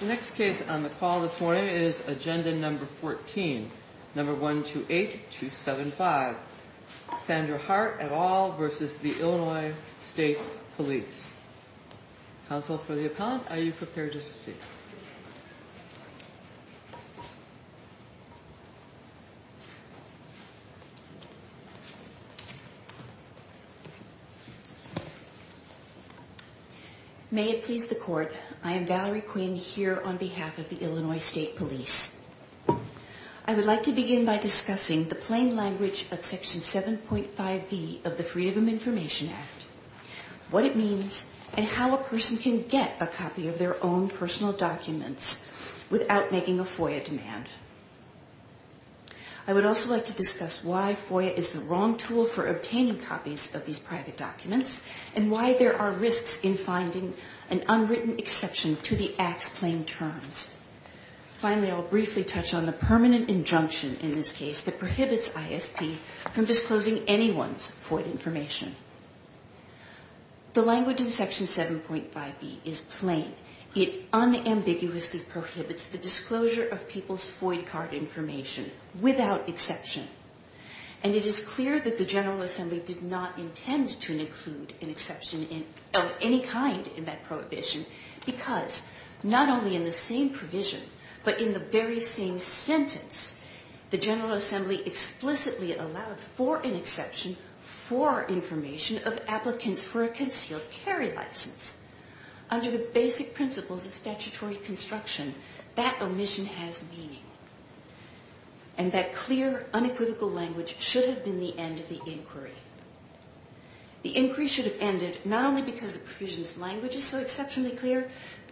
The next case on the call this morning is agenda number 14, number 128275 Sandra Hart et al. versus the Illinois State Police. Counsel for the appellant, are you prepared to speak? May it please the court, I am Valerie Quinn here on behalf of the Illinois State Police. I would like to begin by discussing the plain language of section 7.5b of the Freedom of Information Act, what it means and how a person can get a copy of their own personal documents without making a FOIA demand. I would also like to discuss why FOIA is the wrong tool for obtaining copies of these private documents and why there are risks in finding an unwritten exception to the Act's plain terms. Finally, I will briefly touch on the permanent injunction in this case that prohibits ISP from disclosing anyone's FOIA information. The language in section 7.5b is plain. It unambiguously prohibits the disclosure of people's FOIA card information without exception and it is clear that the General Assembly did not intend to include an exception of any kind in that prohibition because not only in the same provision but in the very same sentence, the General Assembly explicitly allowed for an exception for information of applicants for a concealed carry license. Under the basic principles of statutory construction, that omission has meaning and that clear, unequivocal language should have been the end of the inquiry. The inquiry should have ended not only because the provision's language is so exceptionally clear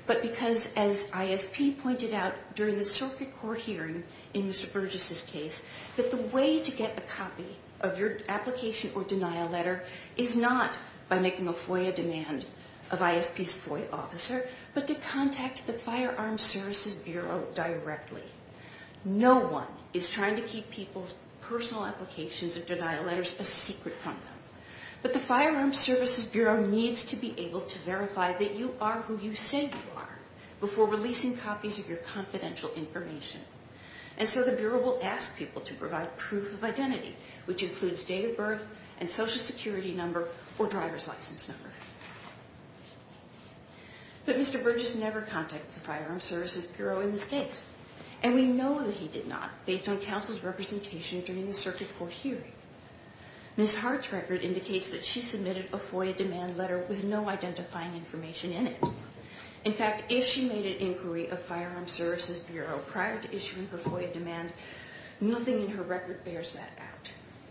but because as ISP pointed out during the circuit court hearing in Mr. Burgess' case, that the way to get a copy of your application or denial letter is not by making a FOIA demand of ISP's FOIA officer but to contact the Firearms Services Bureau directly. No one is trying to keep people's personal applications or denial letters a secret from them. But the Firearms Services Bureau needs to be able to verify that you are who you say you are before releasing copies of your confidential information. And so the Bureau will ask people to provide proof of identity which includes date of birth and Social Security number or driver's license number. But Mr. Burgess never contacted the Firearms Services Bureau in this case and we know that he did not based on counsel's representation during the circuit court hearing. Ms. Hart's record indicates that she submitted a FOIA demand letter with no identifying information in it. In fact, if she made an inquiry of Firearms Services Bureau prior to issuing her FOIA demand, nothing in her record bears that out.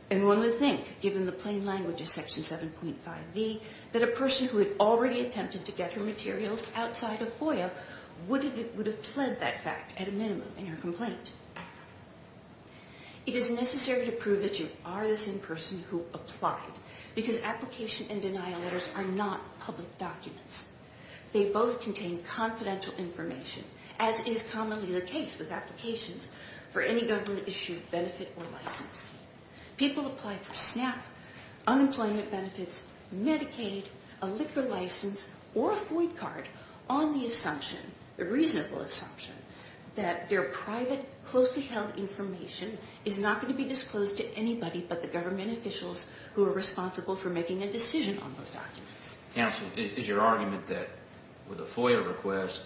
And one would think, given the plain language of Section 7.5b, that a person who had already attempted to get her materials outside of FOIA would have pled that fact at a minimum in her complaint. It is necessary to prove that you are the same person who applied because application and denial letters are not public documents. They both contain confidential information as is commonly the case with applications for any government issued benefit or license. People apply for SNAP, unemployment benefits, Medicaid, a liquor license, or a FOIA card on the assumption, the reasonable assumption, that their private closely held information is not going to be disclosed to anybody but the government officials who are responsible for making a decision on those documents. Counsel, is your argument that with a FOIA request,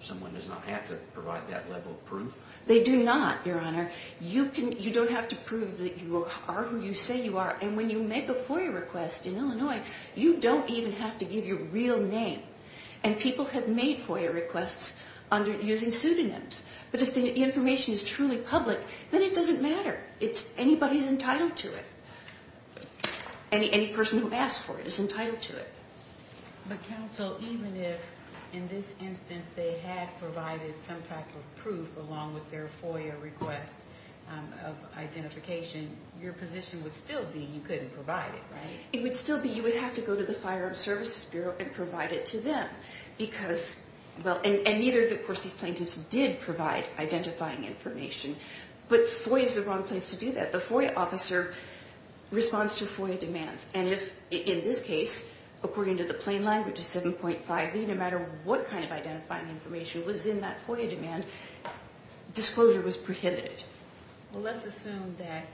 someone does not have to provide that level of proof? They do not, Your Honor. You don't have to prove that you are who you say you are and when you make a FOIA request in Illinois, you don't even have to give your real name. And if the information is truly public, then it doesn't matter. Anybody is entitled to it. Any person who asked for it is entitled to it. But Counsel, even if in this instance they had provided some type of proof along with their FOIA request of identification, your position would still be you couldn't provide it, right? It would still be you would have to go to the Firearm Services Bureau and provide it to them because, and neither of these plaintiffs did provide identifying information, but FOIA is the wrong place to do that. The FOIA officer responds to FOIA demands and if, in this case, according to the plain language of 7.5b, no matter what kind of identifying information was in that FOIA demand, disclosure was prohibited. Well, let's assume that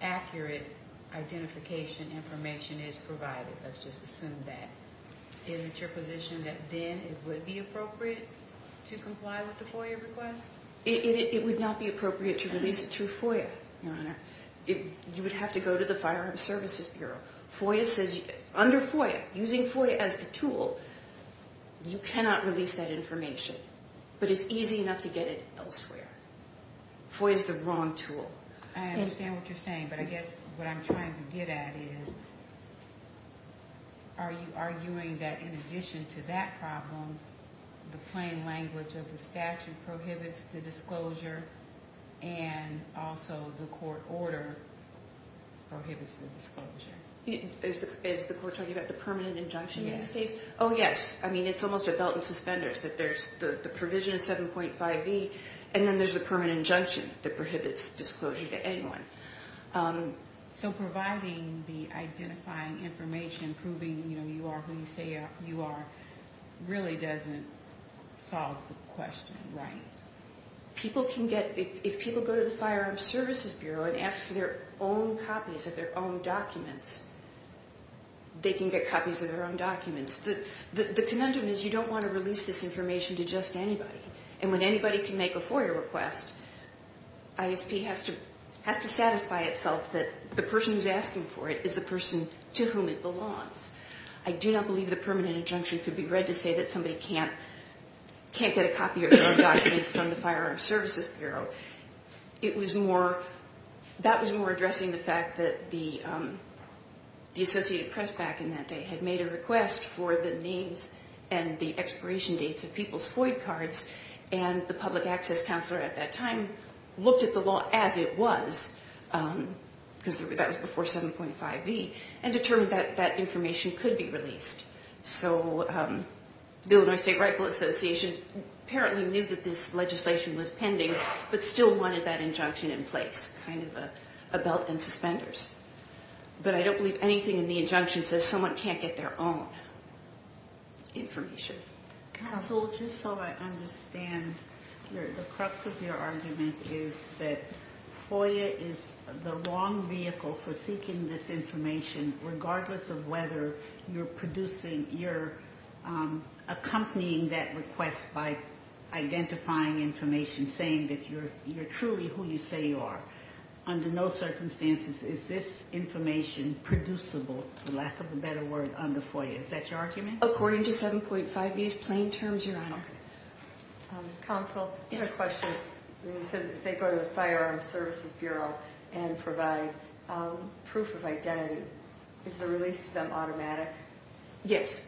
accurate identification information is provided. Let's just assume that. Is it your position that then it would be appropriate to comply with the FOIA request? It would not be appropriate to release it through FOIA, Your Honor. You would have to go to the Firearm Services Bureau. FOIA says, under FOIA, using FOIA as the tool, you cannot release that information. But it's easy enough to get it elsewhere. FOIA is the wrong tool. I understand what you're saying, but I guess what I'm trying to get at is, are you arguing that in addition to that problem, the plain language of the statute prohibits the disclosure and also the court order prohibits the disclosure? Is the court talking about the permanent injunction in this case? Oh, yes. I mean, it's almost a belt and suspenders that there's the provision of 7.5b, and then there's a permanent injunction that prohibits disclosure to anyone. So providing the identifying information, proving you are who you say you are, really doesn't solve the question, right? People can get, if people go to the Firearm Services Bureau and ask for their own copies of their own documents, they can get copies of their own documents. The conundrum is you don't want to release this information to just anybody. And when anybody can make a FOIA request, ISP has to satisfy itself that the person who's asking for it is the person to whom it belongs. I do not believe the permanent injunction could be read to say that somebody can't get a copy of their own documents from the Firearm Services Bureau. It was more, that was more addressing the fact that the Associated Press back in that day had made a request for the names and the expiration dates of people's FOIA cards, and the Public Access Counselor at that time looked at the law as it was, because that was before 7.5b, and determined that that information could be released. So the Illinois State Rightful Association apparently knew that this legislation was pending, but still wanted that injunction in place, kind of a belt and suspenders. But I don't believe anything in the injunction says someone can't get their own information. Counsel, just so I understand, the crux of your argument is that FOIA is the wrong vehicle for seeking this information, regardless of whether you're producing, you're accompanying that request by identifying information, saying that you're truly who you say you are. Under no circumstances is this information producible, for lack of a better word, under FOIA. Is that your argument? According to 7.5b's plain terms, Your Honor. Counsel, I have a question. You said that they go to the Firearms Services Bureau and provide proof of identity. Is the release to them automatic? Yes,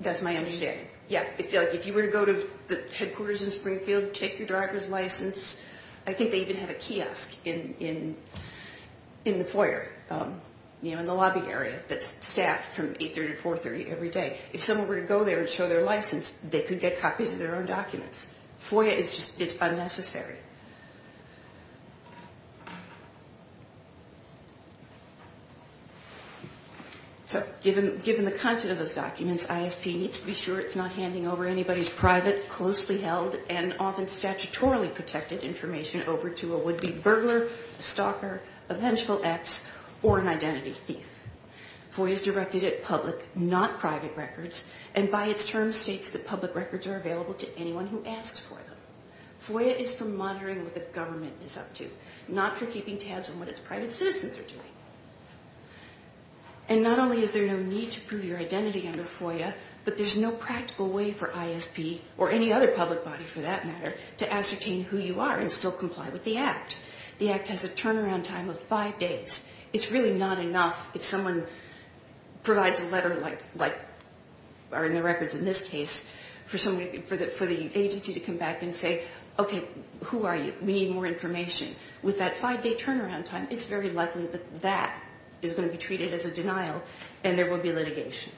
that's my understanding. If you were to go to the headquarters in Springfield, take your driver's license, I think they even have a kiosk in the FOIA, in the lobby area, that's staffed from 830 to 430 every day. If someone were to go there and show their license, they could get copies of their own documents. FOIA is unnecessary. Given the content of those documents, ISP needs to be sure it's not handing over anybody's private, closely held, and often statutorily protected information over to a would-be burglar, stalker, a vengeful ex, or an identity thief. FOIA is directed at public, not private records, and by its terms states that public records are available to anyone who asks for them. FOIA is for monitoring what the government is up to, not for keeping tabs on what its private citizens are doing. And not only is there no need to prove your identity under FOIA, but there's no practical way for ISP, or any other public body for that matter, to ascertain who you are and still comply with the Act. The Act has a turnaround time of five days. It's really not enough if someone provides a letter, like are in the records in this case, for the agency to come back and say, okay, who are you? We need more information. With that five-day turnaround time, it's very likely that that is going to be treated as a denial and there will be litigation.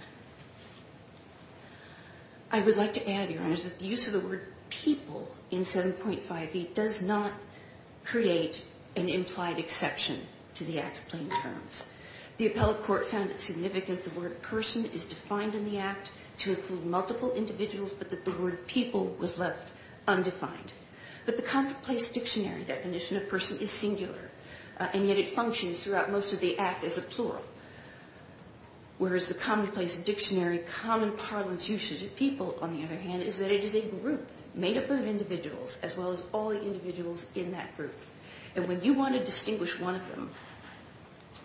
I would like to add, Your Honors, that the use of the word people in 7.5e does not create an implied exception to the Act's plain terms. The appellate court found it significant the word person is defined in the Act to include multiple individuals, but that the word people was left undefined. But the commonplace dictionary definition of person is singular, and yet it functions throughout most of the Act as a plural. Whereas the commonplace dictionary common parlance usage of people, on the other hand, is that it is a group made up of individuals as well as all the individuals in that group. And when you want to distinguish one of them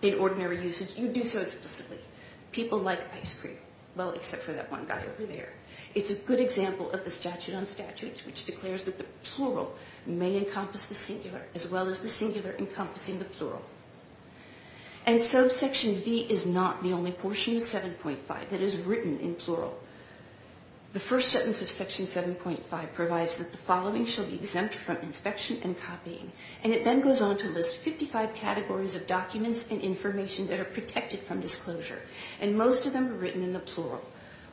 in ordinary usage, you do so explicitly. People like ice cream. Well, except for that one guy over there. It's a good example of the statute on statutes which declares that the plural may encompass the singular as well as the singular encompassing the plural. And subsection v is not the only portion of 7.5 that is written in plural. The first sentence of section 7.5 provides that the following shall be exempt from inspection and copying. And it then goes on to list 55 categories of documents and information that are protected from disclosure. And most of them are written in the plural.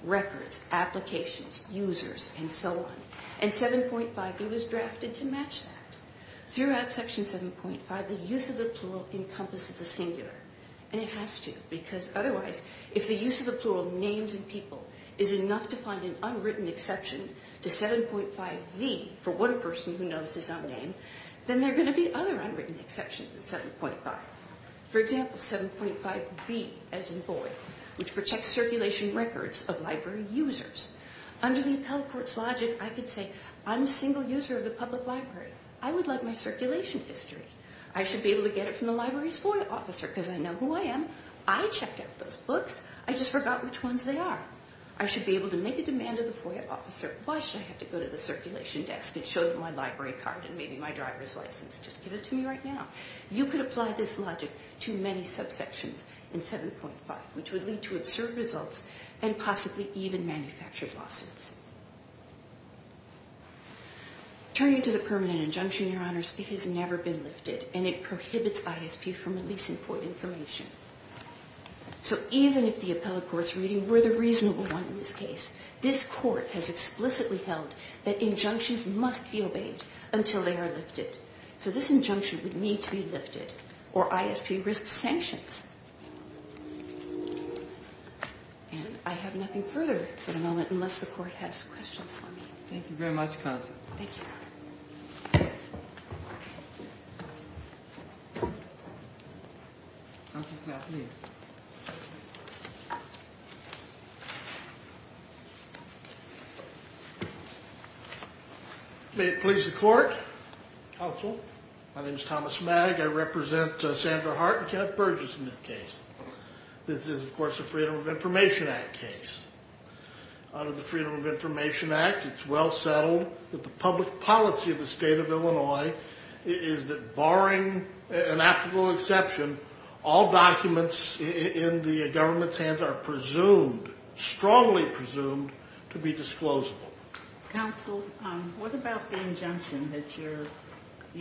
Records, applications, users, and so on. And 7.5e was drafted to match that. Throughout section 7.5, the use of the plural is enough to find an unwritten exception to 7.5v for what a person who knows his own name, then there are going to be other unwritten exceptions in 7.5. For example, 7.5b as in void, which protects circulation records of library users. Under the appellate court's logic, I could say I'm a single user of the public library. I would like my circulation history. I should be able to get it from the library's FOIA officer because I know who I am. I checked out those books. I just forgot which ones they are. I should be able to make a demand of the FOIA officer. Why should I have to go to the circulation desk and show them my library card and maybe my driver's license? Just give it to me right now. You could apply this logic to many subsections in 7.5, which would lead to absurd results and possibly even manufactured lawsuits. Turning to the permanent injunction, Your Honor, it has never been lifted and it prohibits ISP from releasing void information. So even if the appellate court's reading were the reasonable one in this case, this court has explicitly held that injunctions must be obeyed until they are lifted. So this injunction would need to be lifted or ISP risks sanctions. And I have nothing further for the moment unless the court has questions for me. Thank you very much, Counsel. Thank you, Your Honor. May it please the Court. Counsel, my name is Thomas Magg. I represent Sandra Hart and Kenneth Burgess in this case. This is, of course, a Freedom of Information Act case. Under the Freedom of Information Act, it's well settled that the public policy of the state of Illinois is that, barring an ethical exception, all documents in the government's hands are presumed, strongly presumed, to be disclosable. Counsel, what about the injunction that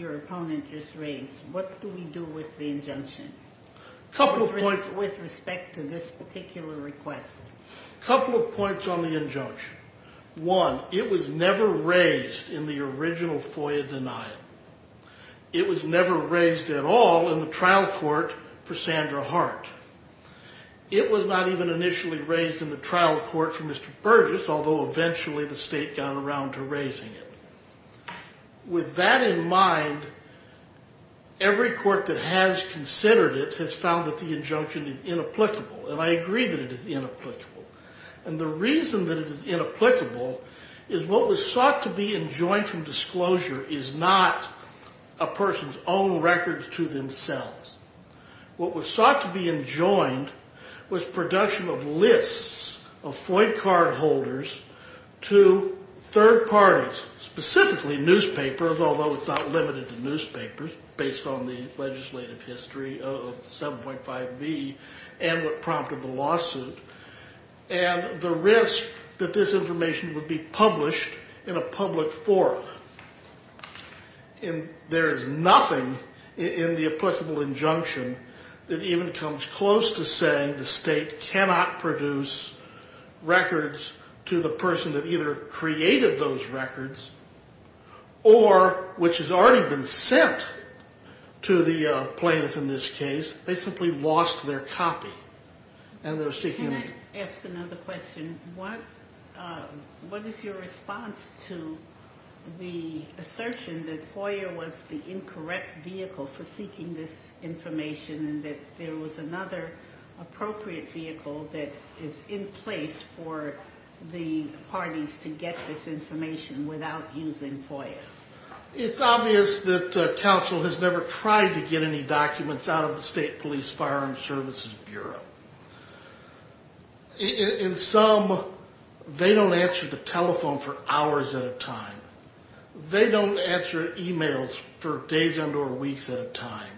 your opponent just raised? What do we do with the injunction with respect to this particular request? A couple of points on the injunction. One, it was never raised in the original FOIA denial. It was never raised at all in the trial court for Sandra Hart. It was not even initially raised in the trial court for Mr. Burgess, although eventually the state got around to raising it. With that in mind, every court that has considered it has found that the injunction is inapplicable, and I agree that it is inapplicable. And the reason that it is inapplicable is what was sought to be enjoined from disclosure is not a person's own records to themselves. What was sought to be enjoined was production of lists of FOIA cardholders to third parties, specifically newspapers, although it's not limited to newspapers based on the legislative history of 7.5b and what prompted the lawsuit, and the risk that this information would be published in a public forum. There is nothing in the applicable injunction that even comes close to saying the state cannot produce records to the person that either created those records or which has already been sent to the plaintiff in this case. They simply lost their copy. Can I ask another question? What is your response to the assertion that FOIA was the incorrect vehicle for seeking this information and that there was another appropriate vehicle that is in place for the parties to get this information without using FOIA? It's obvious that counsel has never tried to get any documents out of the State Police Firearm Services Bureau. In sum, they don't answer the telephone for hours at a time. They don't answer emails for days and or weeks at a time.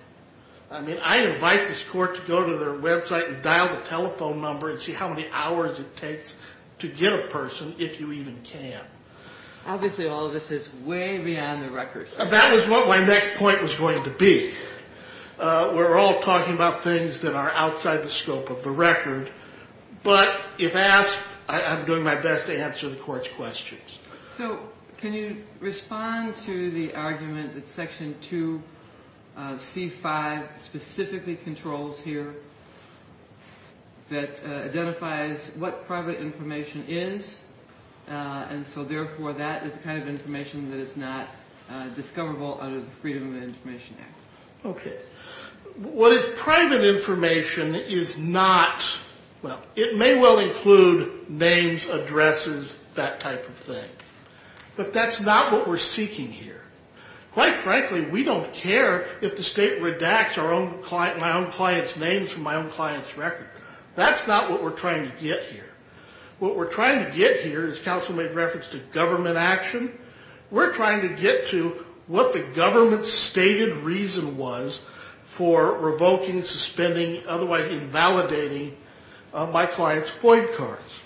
I mean, I invite this court to go to their website and dial the telephone number and see how many hours it takes to get a person if you even can. Obviously, all of this is way beyond the record. That was what my next point was going to be. We're all talking about things that are outside the scope of the record. But if asked, I'm doing my best to answer the court's questions. So can you respond to the argument that Section 2 of C-5 specifically controls here that identifies what private information is, and so therefore that is the kind of information that is not discoverable under the Freedom of Information Act? Okay. What if private information is not – well, it may well include names, addresses, that type of thing. But that's not what we're seeking here. Quite frankly, we don't care if the State redacts my own client's names from my own client's record. That's not what we're trying to get here. What we're trying to get here, as counsel made reference to government action, we're trying to get to what the government's stated reason was for revoking, suspending, otherwise invalidating my client's FOID cards.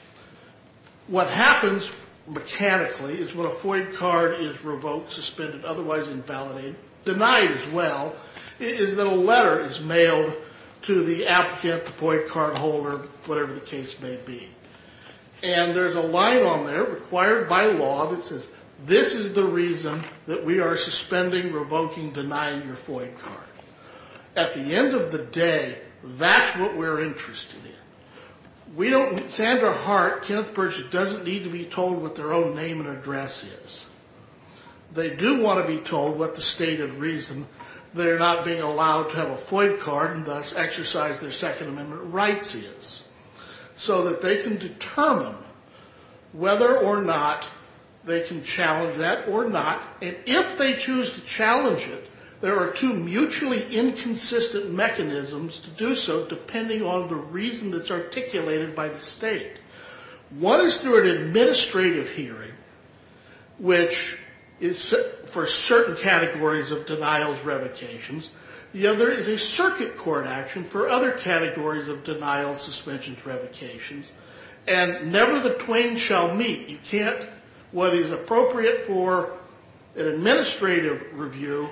What happens mechanically is when a FOID card is revoked, suspended, otherwise invalidated, denied as well, is that a letter is mailed to the applicant, the FOID card holder, whatever the case may be. And there's a line on there, required by law, that says, this is the reason that we are suspending, revoking, denying your FOID card. At the end of the day, that's what we're interested in. We don't – Sandra Hart, Kenneth Birch, doesn't need to be told what their own name and address is. They do want to be told what the stated reason they're not being allowed to have a FOID card and thus exercise their Second Amendment rights is, so that they can determine whether or not they can challenge that or not. And if they choose to challenge it, there are two mutually inconsistent mechanisms to do so, depending on the reason that's articulated by the state. One is through an administrative hearing, which is for certain categories of denials, revocations. The other is a circuit court action for other categories of denials, suspensions, revocations. And never the twain shall meet. You can't – what is appropriate for an administrative review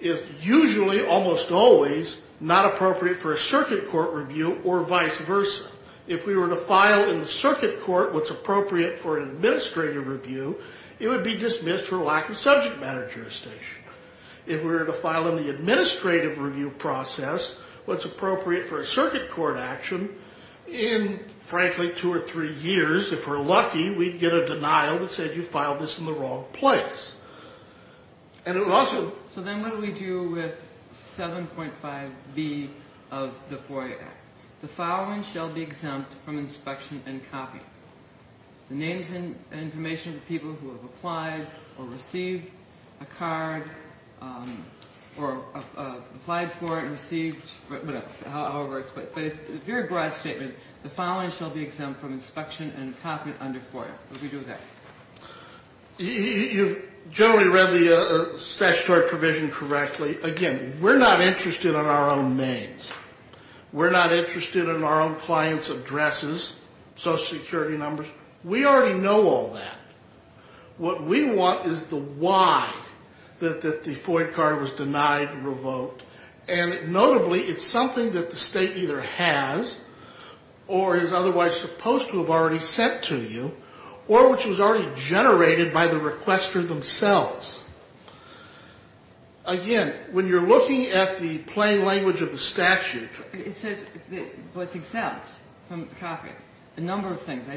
is usually, almost always, not appropriate for a circuit court review or vice versa. If we were to file in the circuit court what's appropriate for an administrative review, it would be dismissed for lack of subject matter jurisdiction. If we were to file in the administrative review process what's appropriate for a circuit court action, in, frankly, two or three years, if we're lucky, we'd get a denial that said you filed this in the wrong place. And it also – So then what do we do with 7.5B of the FOIA Act? The following shall be exempt from inspection and copying. The names and information of the people who have applied or received a card or applied for it and received – however it's – but it's a very broad statement. The following shall be exempt from inspection and copying under FOIA. What do we do with that? You've generally read the statutory provision correctly. Again, we're not interested in our own names. We're not interested in our own clients' addresses, social security numbers. We already know all that. What we want is the why that the FOIA card was denied, revoked. And notably, it's something that the state either has or is otherwise supposed to have already sent to you or which was already generated by the requester themselves. Again, when you're looking at the plain language of the statute – It says what's exempt from copying. A number of things. I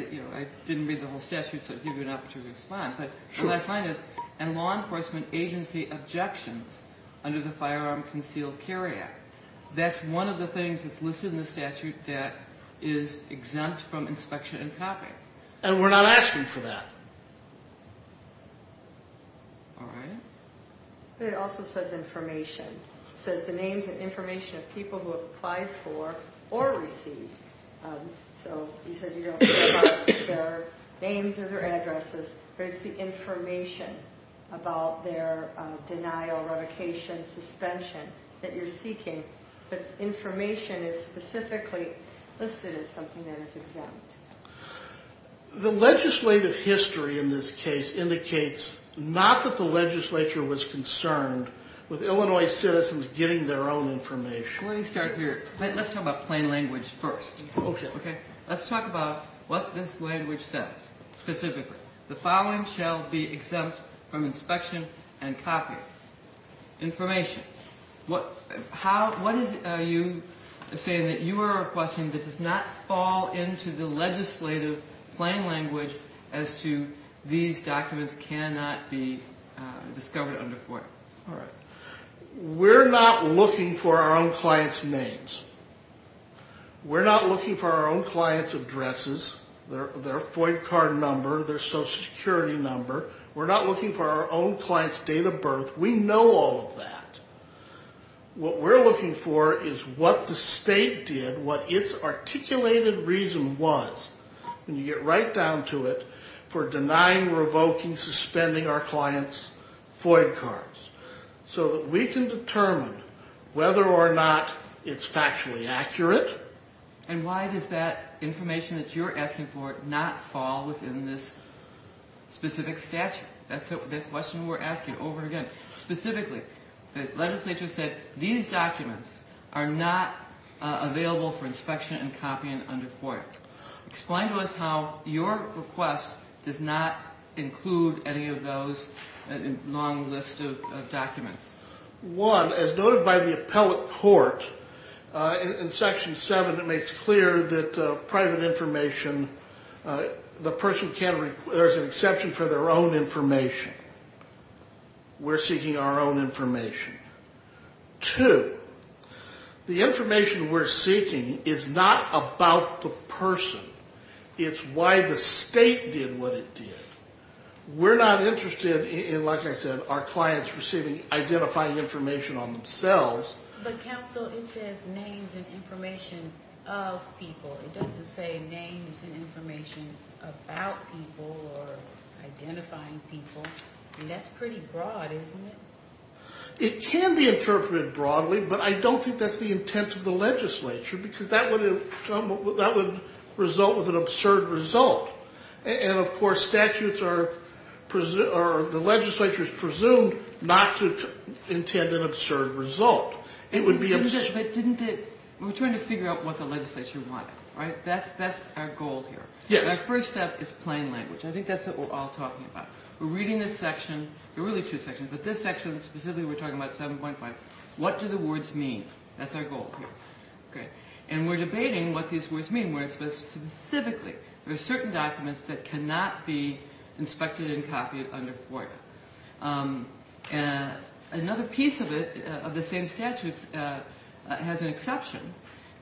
didn't read the whole statute, so I'll give you an opportunity to respond. But the last line is, and law enforcement agency objections under the Firearm Concealed Carry Act. That's one of the things that's listed in the statute that is exempt from inspection and copying. And we're not asking for that. All right. It also says information. It says the names and information of people who applied for or received. So you said you don't care about their names or their addresses, but it's the information about their denial, revocation, suspension that you're seeking. But information is specifically listed as something that is exempt. The legislative history in this case indicates not that the legislature was concerned with Illinois citizens getting their own information. Let me start here. Let's talk about plain language first. Okay. Let's talk about what this language says specifically. The following shall be exempt from inspection and copying. Information. What is it you're saying that you are requesting that does not fall into the legislative plain language as to these documents cannot be discovered under FOIA? All right. We're not looking for our own clients' names. We're not looking for our own clients' addresses, their FOIA card number, their Social Security number. We're not looking for our own clients' date of birth. We know all of that. What we're looking for is what the state did, what its articulated reason was, and you get right down to it, for denying, revoking, suspending our clients' FOIA cards so that we can determine whether or not it's factually accurate. And why does that information that you're asking for not fall within this specific statute? That's the question we're asking over again. Specifically, the legislature said these documents are not available for inspection and copying under FOIA. Explain to us how your request does not include any of those long lists of documents. One, as noted by the appellate court in Section 7, it makes clear that private information, the person can't, there's an exception for their own information. We're seeking our own information. Two, the information we're seeking is not about the person. It's why the state did what it did. We're not interested in, like I said, our clients receiving, identifying information on themselves. But counsel, it says names and information of people. It doesn't say names and information about people or identifying people. And that's pretty broad, isn't it? It can be interpreted broadly, but I don't think that's the intent of the legislature, because that would result with an absurd result. And, of course, statutes are, or the legislature is presumed not to intend an absurd result. It would be absurd. But didn't it, we're trying to figure out what the legislature wanted, right? That's our goal here. Yes. Our first step is plain language. I think that's what we're all talking about. We're reading this section, there are really two sections, but this section specifically we're talking about 7.5. What do the words mean? That's our goal here. Okay. And we're debating what these words mean. Specifically, there are certain documents that cannot be inspected and copied under FOIA. Another piece of it, of the same statutes, has an exception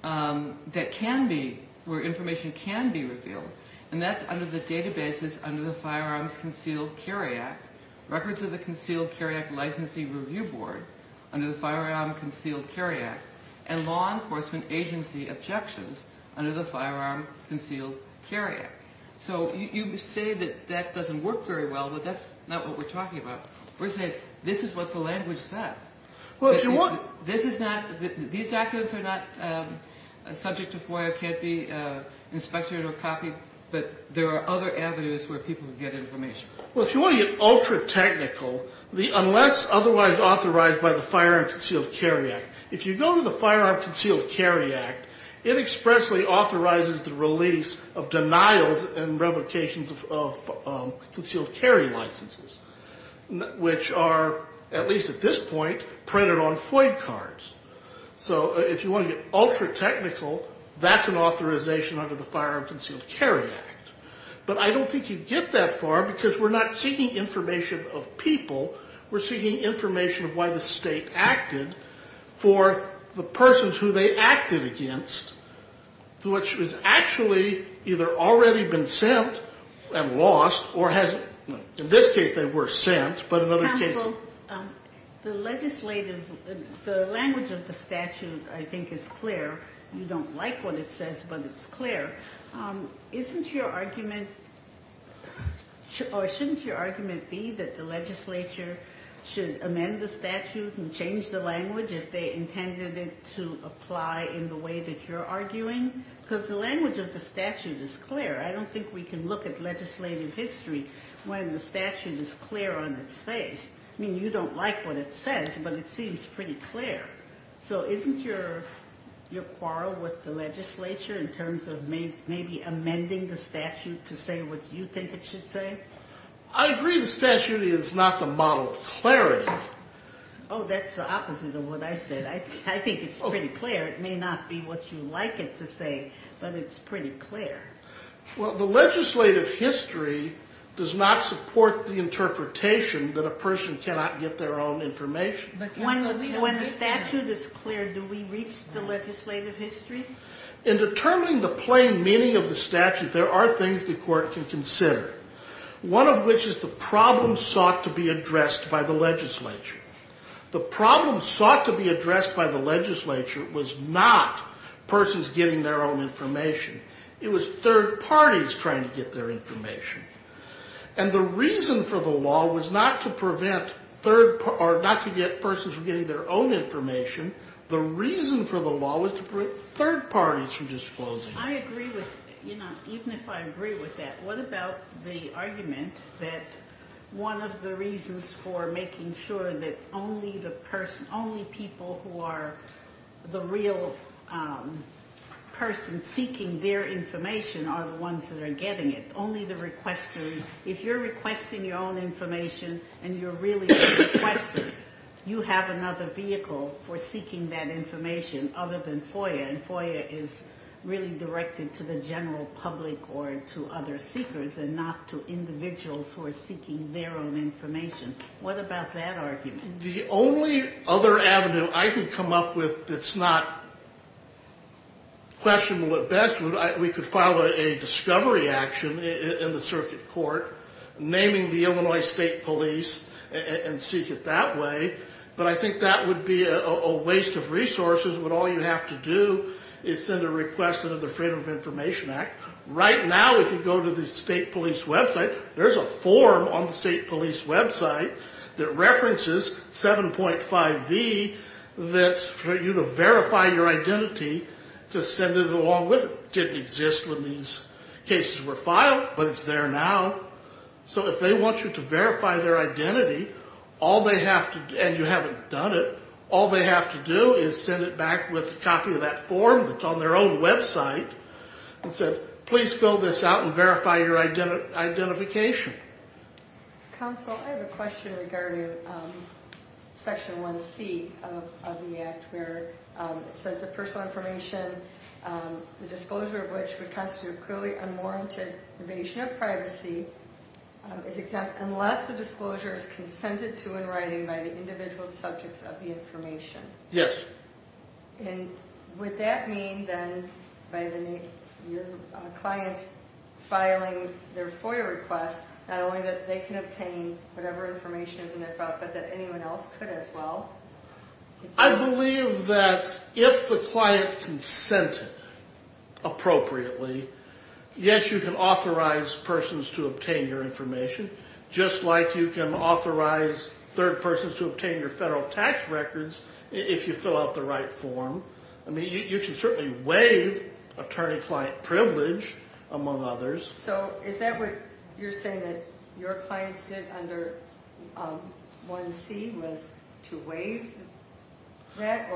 that can be, where information can be revealed, and that's under the databases under the Firearms Concealed Carry Act, records of the Concealed Carry Act Licensee Review Board under the Firearms Concealed Carry Act, and law enforcement agency objections under the Firearms Concealed Carry Act. So you say that that doesn't work very well, but that's not what we're talking about. We're saying this is what the language says. These documents are not subject to FOIA, can't be inspected or copied, but there are other avenues where people can get information. Well, if you want to get ultra technical, unless otherwise authorized by the Firearms Concealed Carry Act, if you go to the Firearms Concealed Carry Act, it expressly authorizes the release of denials and revocations of concealed carry licenses, which are, at least at this point, printed on FOIA cards. So if you want to get ultra technical, that's an authorization under the Firearms Concealed Carry Act. But I don't think you'd get that far because we're not seeking information of people. We're seeking information of why the state acted for the persons who they acted against, which has actually either already been sent and lost or has, in this case, they were sent, but in other cases. Counsel, the legislative, the language of the statute, I think, is clear. You don't like what it says, but it's clear. Isn't your argument, or shouldn't your argument be that the legislature should amend the statute and change the language if they intended it to apply in the way that you're arguing? Because the language of the statute is clear. I don't think we can look at legislative history when the statute is clear on its face. I mean, you don't like what it says, but it seems pretty clear. So isn't your quarrel with the legislature in terms of maybe amending the statute to say what you think it should say? I agree the statute is not the model of clarity. Oh, that's the opposite of what I said. I think it's pretty clear. It may not be what you like it to say, but it's pretty clear. Well, the legislative history does not support the interpretation that a person cannot get their own information. When the statute is clear, do we reach the legislative history? In determining the plain meaning of the statute, there are things the court can consider, one of which is the problem sought to be addressed by the legislature. The problem sought to be addressed by the legislature was not persons getting their own information. It was third parties trying to get their information. And the reason for the law was not to prevent persons from getting their own information. The reason for the law was to prevent third parties from disclosing it. I agree with, you know, even if I agree with that, what about the argument that one of the reasons for making sure that only the person, only people who are the real person seeking their information are the ones that are getting it, only the requester. If you're requesting your own information and you're really the requester, you have another vehicle for seeking that information other than FOIA, and FOIA is really directed to the general public or to other seekers and not to individuals who are seeking their own information. What about that argument? The only other avenue I could come up with that's not questionable at best, we could file a discovery action in the circuit court naming the Illinois State Police and seek it that way, but I think that would be a waste of resources when all you have to do is send a request under the Freedom of Information Act. Right now, if you go to the state police website, there's a form on the state police website that references 7.5V for you to verify your identity to send it along with it. It didn't exist when these cases were filed, but it's there now. So if they want you to verify their identity and you haven't done it, all they have to do is send it back with a copy of that form that's on their own website and say, please fill this out and verify your identification. Counsel, I have a question regarding Section 1C of the Act where it says that personal information, the disclosure of which would constitute clearly unwarranted invasion of privacy, is exempt unless the disclosure is consented to in writing by the individual subjects of the information. Yes. And would that mean then by the clients filing their FOIA request, not only that they can obtain whatever information is in their file, but that anyone else could as well? I believe that if the client consented appropriately, yes, you can authorize persons to obtain your information, just like you can authorize third persons to obtain your federal tax records if you fill out the right form. I mean, you can certainly waive attorney-client privilege, among others. So is that what you're saying that your clients did under 1C was to waive that?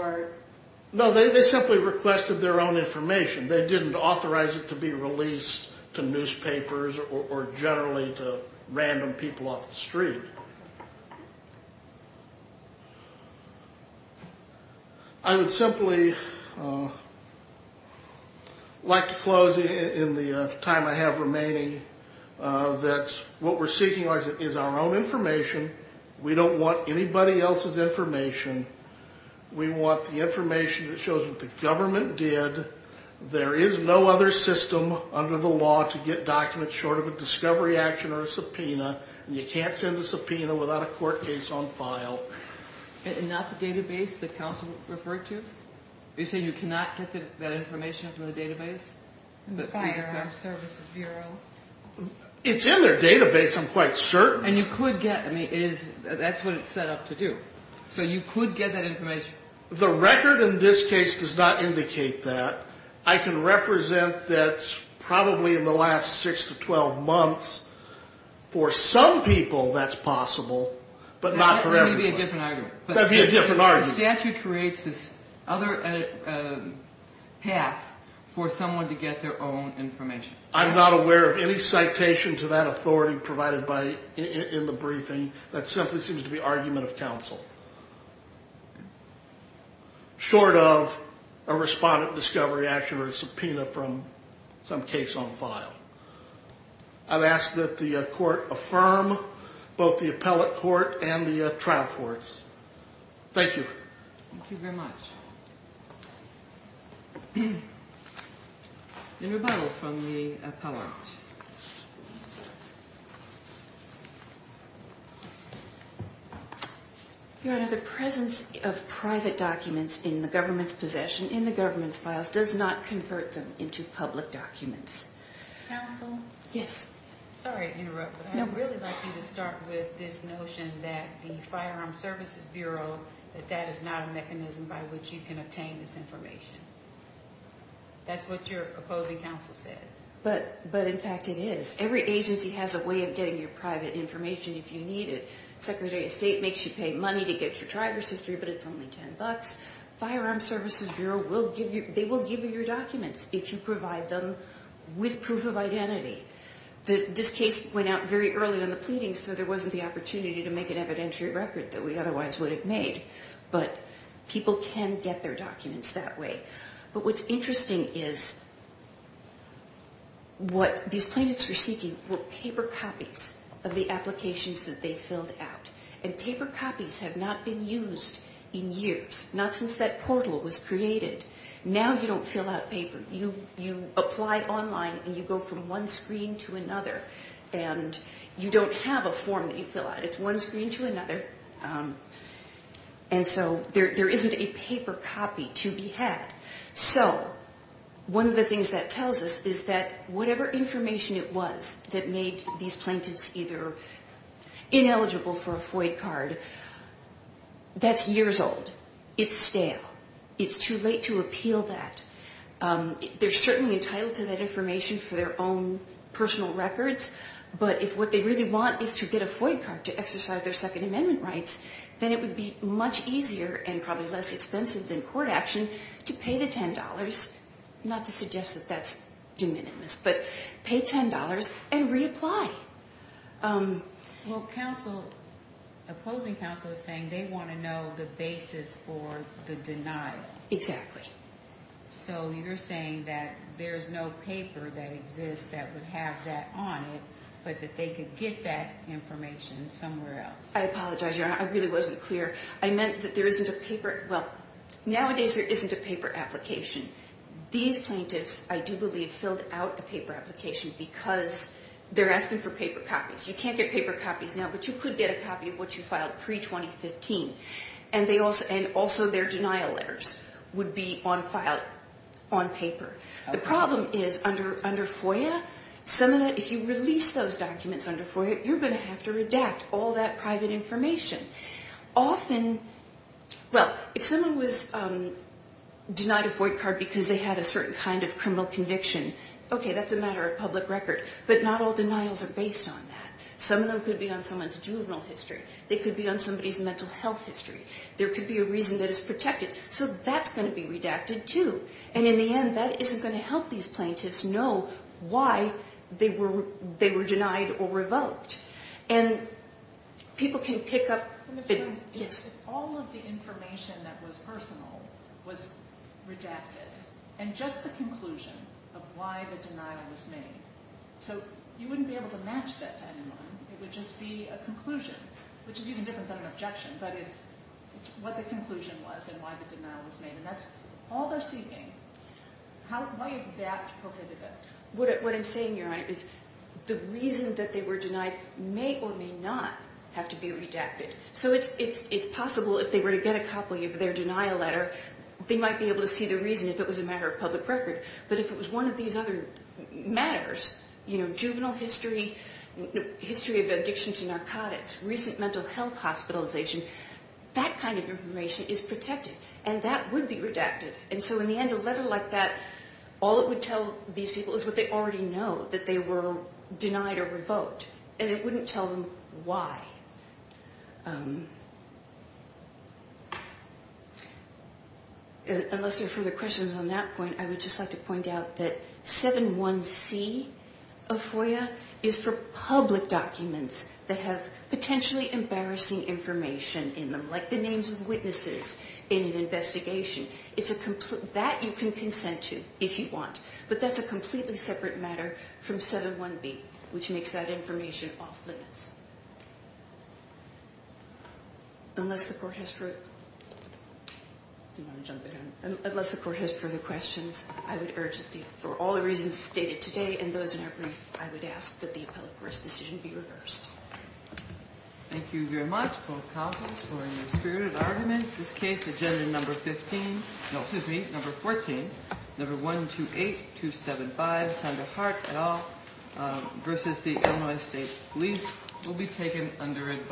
No, they simply requested their own information. They didn't authorize it to be released to newspapers or generally to random people off the street. I would simply like to close in the time I have remaining that what we're seeking is our own information. We don't want anybody else's information. We want the information that shows what the government did. There is no other system under the law to get documents short of a discovery action or a subpoena, and you can't send a subpoena without a court case on file. And not the database that counsel referred to? Are you saying you cannot get that information from the database? The Firearms Services Bureau. It's in their database, I'm quite certain. And you could get, I mean, that's what it's set up to do. So you could get that information. The record in this case does not indicate that. I can represent that probably in the last 6 to 12 months, for some people that's possible, but not for everybody. That would be a different argument. That would be a different argument. The statute creates this other path for someone to get their own information. I'm not aware of any citation to that authority provided in the briefing that simply seems to be argument of counsel, short of a respondent discovery action or a subpoena from some case on file. I'd ask that the court affirm both the appellate court and the trial courts. Thank you. Thank you very much. A rebuttal from the appellant. Your Honor, the presence of private documents in the government's possession in the government's files does not convert them into public documents. Counsel? Yes. Sorry to interrupt, but I'd really like you to start with this notion that the Firearm Services Bureau, that that is not a mechanism by which you can obtain this information. That's what your opposing counsel said. But, in fact, it is. Every agency has a way of getting your private information if you need it. Secretary of State makes you pay money to get your driver's history, but it's only $10. Firearm Services Bureau, they will give you your documents if you provide them with proof of identity. This case went out very early in the pleading, so there wasn't the opportunity to make an evidentiary record that we otherwise would have made. But people can get their documents that way. But what's interesting is what these plaintiffs were seeking were paper copies of the applications that they filled out. And paper copies have not been used in years, not since that portal was created. Now you don't fill out paper. You apply online, and you go from one screen to another, and you don't have a form that you fill out. It's one screen to another. And so there isn't a paper copy to be had. So one of the things that tells us is that whatever information it was that made these plaintiffs either ineligible for a FOIA card, that's years old. It's stale. It's too late to appeal that. They're certainly entitled to that information for their own personal records, but if what they really want is to get a FOIA card to exercise their Second Amendment rights, then it would be much easier and probably less expensive than court action to pay the $10, not to suggest that that's de minimis, but pay $10 and reapply. Well, opposing counsel is saying they want to know the basis for the denial. So you're saying that there's no paper that exists that would have that on it, but that they could get that information somewhere else. I apologize, Your Honor. I really wasn't clear. I meant that there isn't a paper. Well, nowadays there isn't a paper application. These plaintiffs, I do believe, filled out a paper application because they're asking for paper copies. You can't get paper copies now, but you could get a copy of what you filed pre-2015, and also their denial letters would be on file on paper. The problem is under FOIA, if you release those documents under FOIA, you're going to have to redact all that private information. Often, well, if someone was denied a FOIA card because they had a certain kind of criminal conviction, okay, that's a matter of public record, but not all denials are based on that. Some of them could be on someone's juvenile history. They could be on somebody's mental health history. There could be a reason that is protected. So that's going to be redacted too, and in the end, that isn't going to help these plaintiffs know why they were denied or revoked. And people can pick up— But Ms. Coon, if all of the information that was personal was redacted, and just the conclusion of why the denial was made, so you wouldn't be able to match that to anyone. It would just be a conclusion, which is even different than an objection, but it's what the conclusion was and why the denial was made, and that's all they're seeking. Why is that prohibitive? What I'm saying, Your Honor, is the reason that they were denied may or may not have to be redacted. So it's possible if they were to get a copy of their denial letter, they might be able to see the reason if it was a matter of public record, but if it was one of these other matters, you know, juvenile history, history of addiction to narcotics, recent mental health hospitalization, that kind of information is protected, and that would be redacted. And so in the end, a letter like that, all it would tell these people is what they already know, that they were denied or revoked, and it wouldn't tell them why. Unless there are further questions on that point, I would just like to point out that 7.1c of FOIA is for public documents that have potentially embarrassing information in them, like the names of witnesses in an investigation. That you can consent to if you want, but that's a completely separate matter from 7.1b, which makes that information off limits. Unless the Court has further questions, I would urge for all the reasons stated today and those in our brief, I would ask that the appellate court's decision be reversed. Thank you very much, both counsels, for your spirited arguments. This case, agenda number 15, no, excuse me, number 14, number 128275, Sandra Hart, et al., versus the Illinois State Police will be taken under advisory.